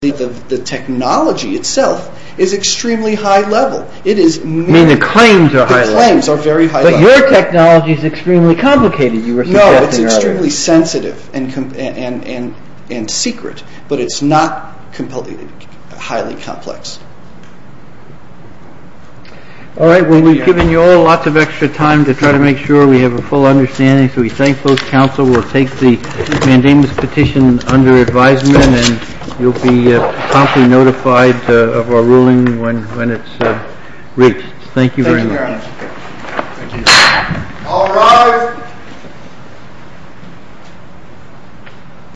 The technology itself is extremely high level, the claims are very high level. But your technology is extremely complicated. No, it's extremely sensitive and secret, but it's not highly complex. All right, well we've given you all lots of extra time to try to make sure we have a full understanding, so we thank both counsel, we'll take the mandamus petition under advisement, and you'll be promptly notified of our ruling when it's reached. Thank you very much. All rise.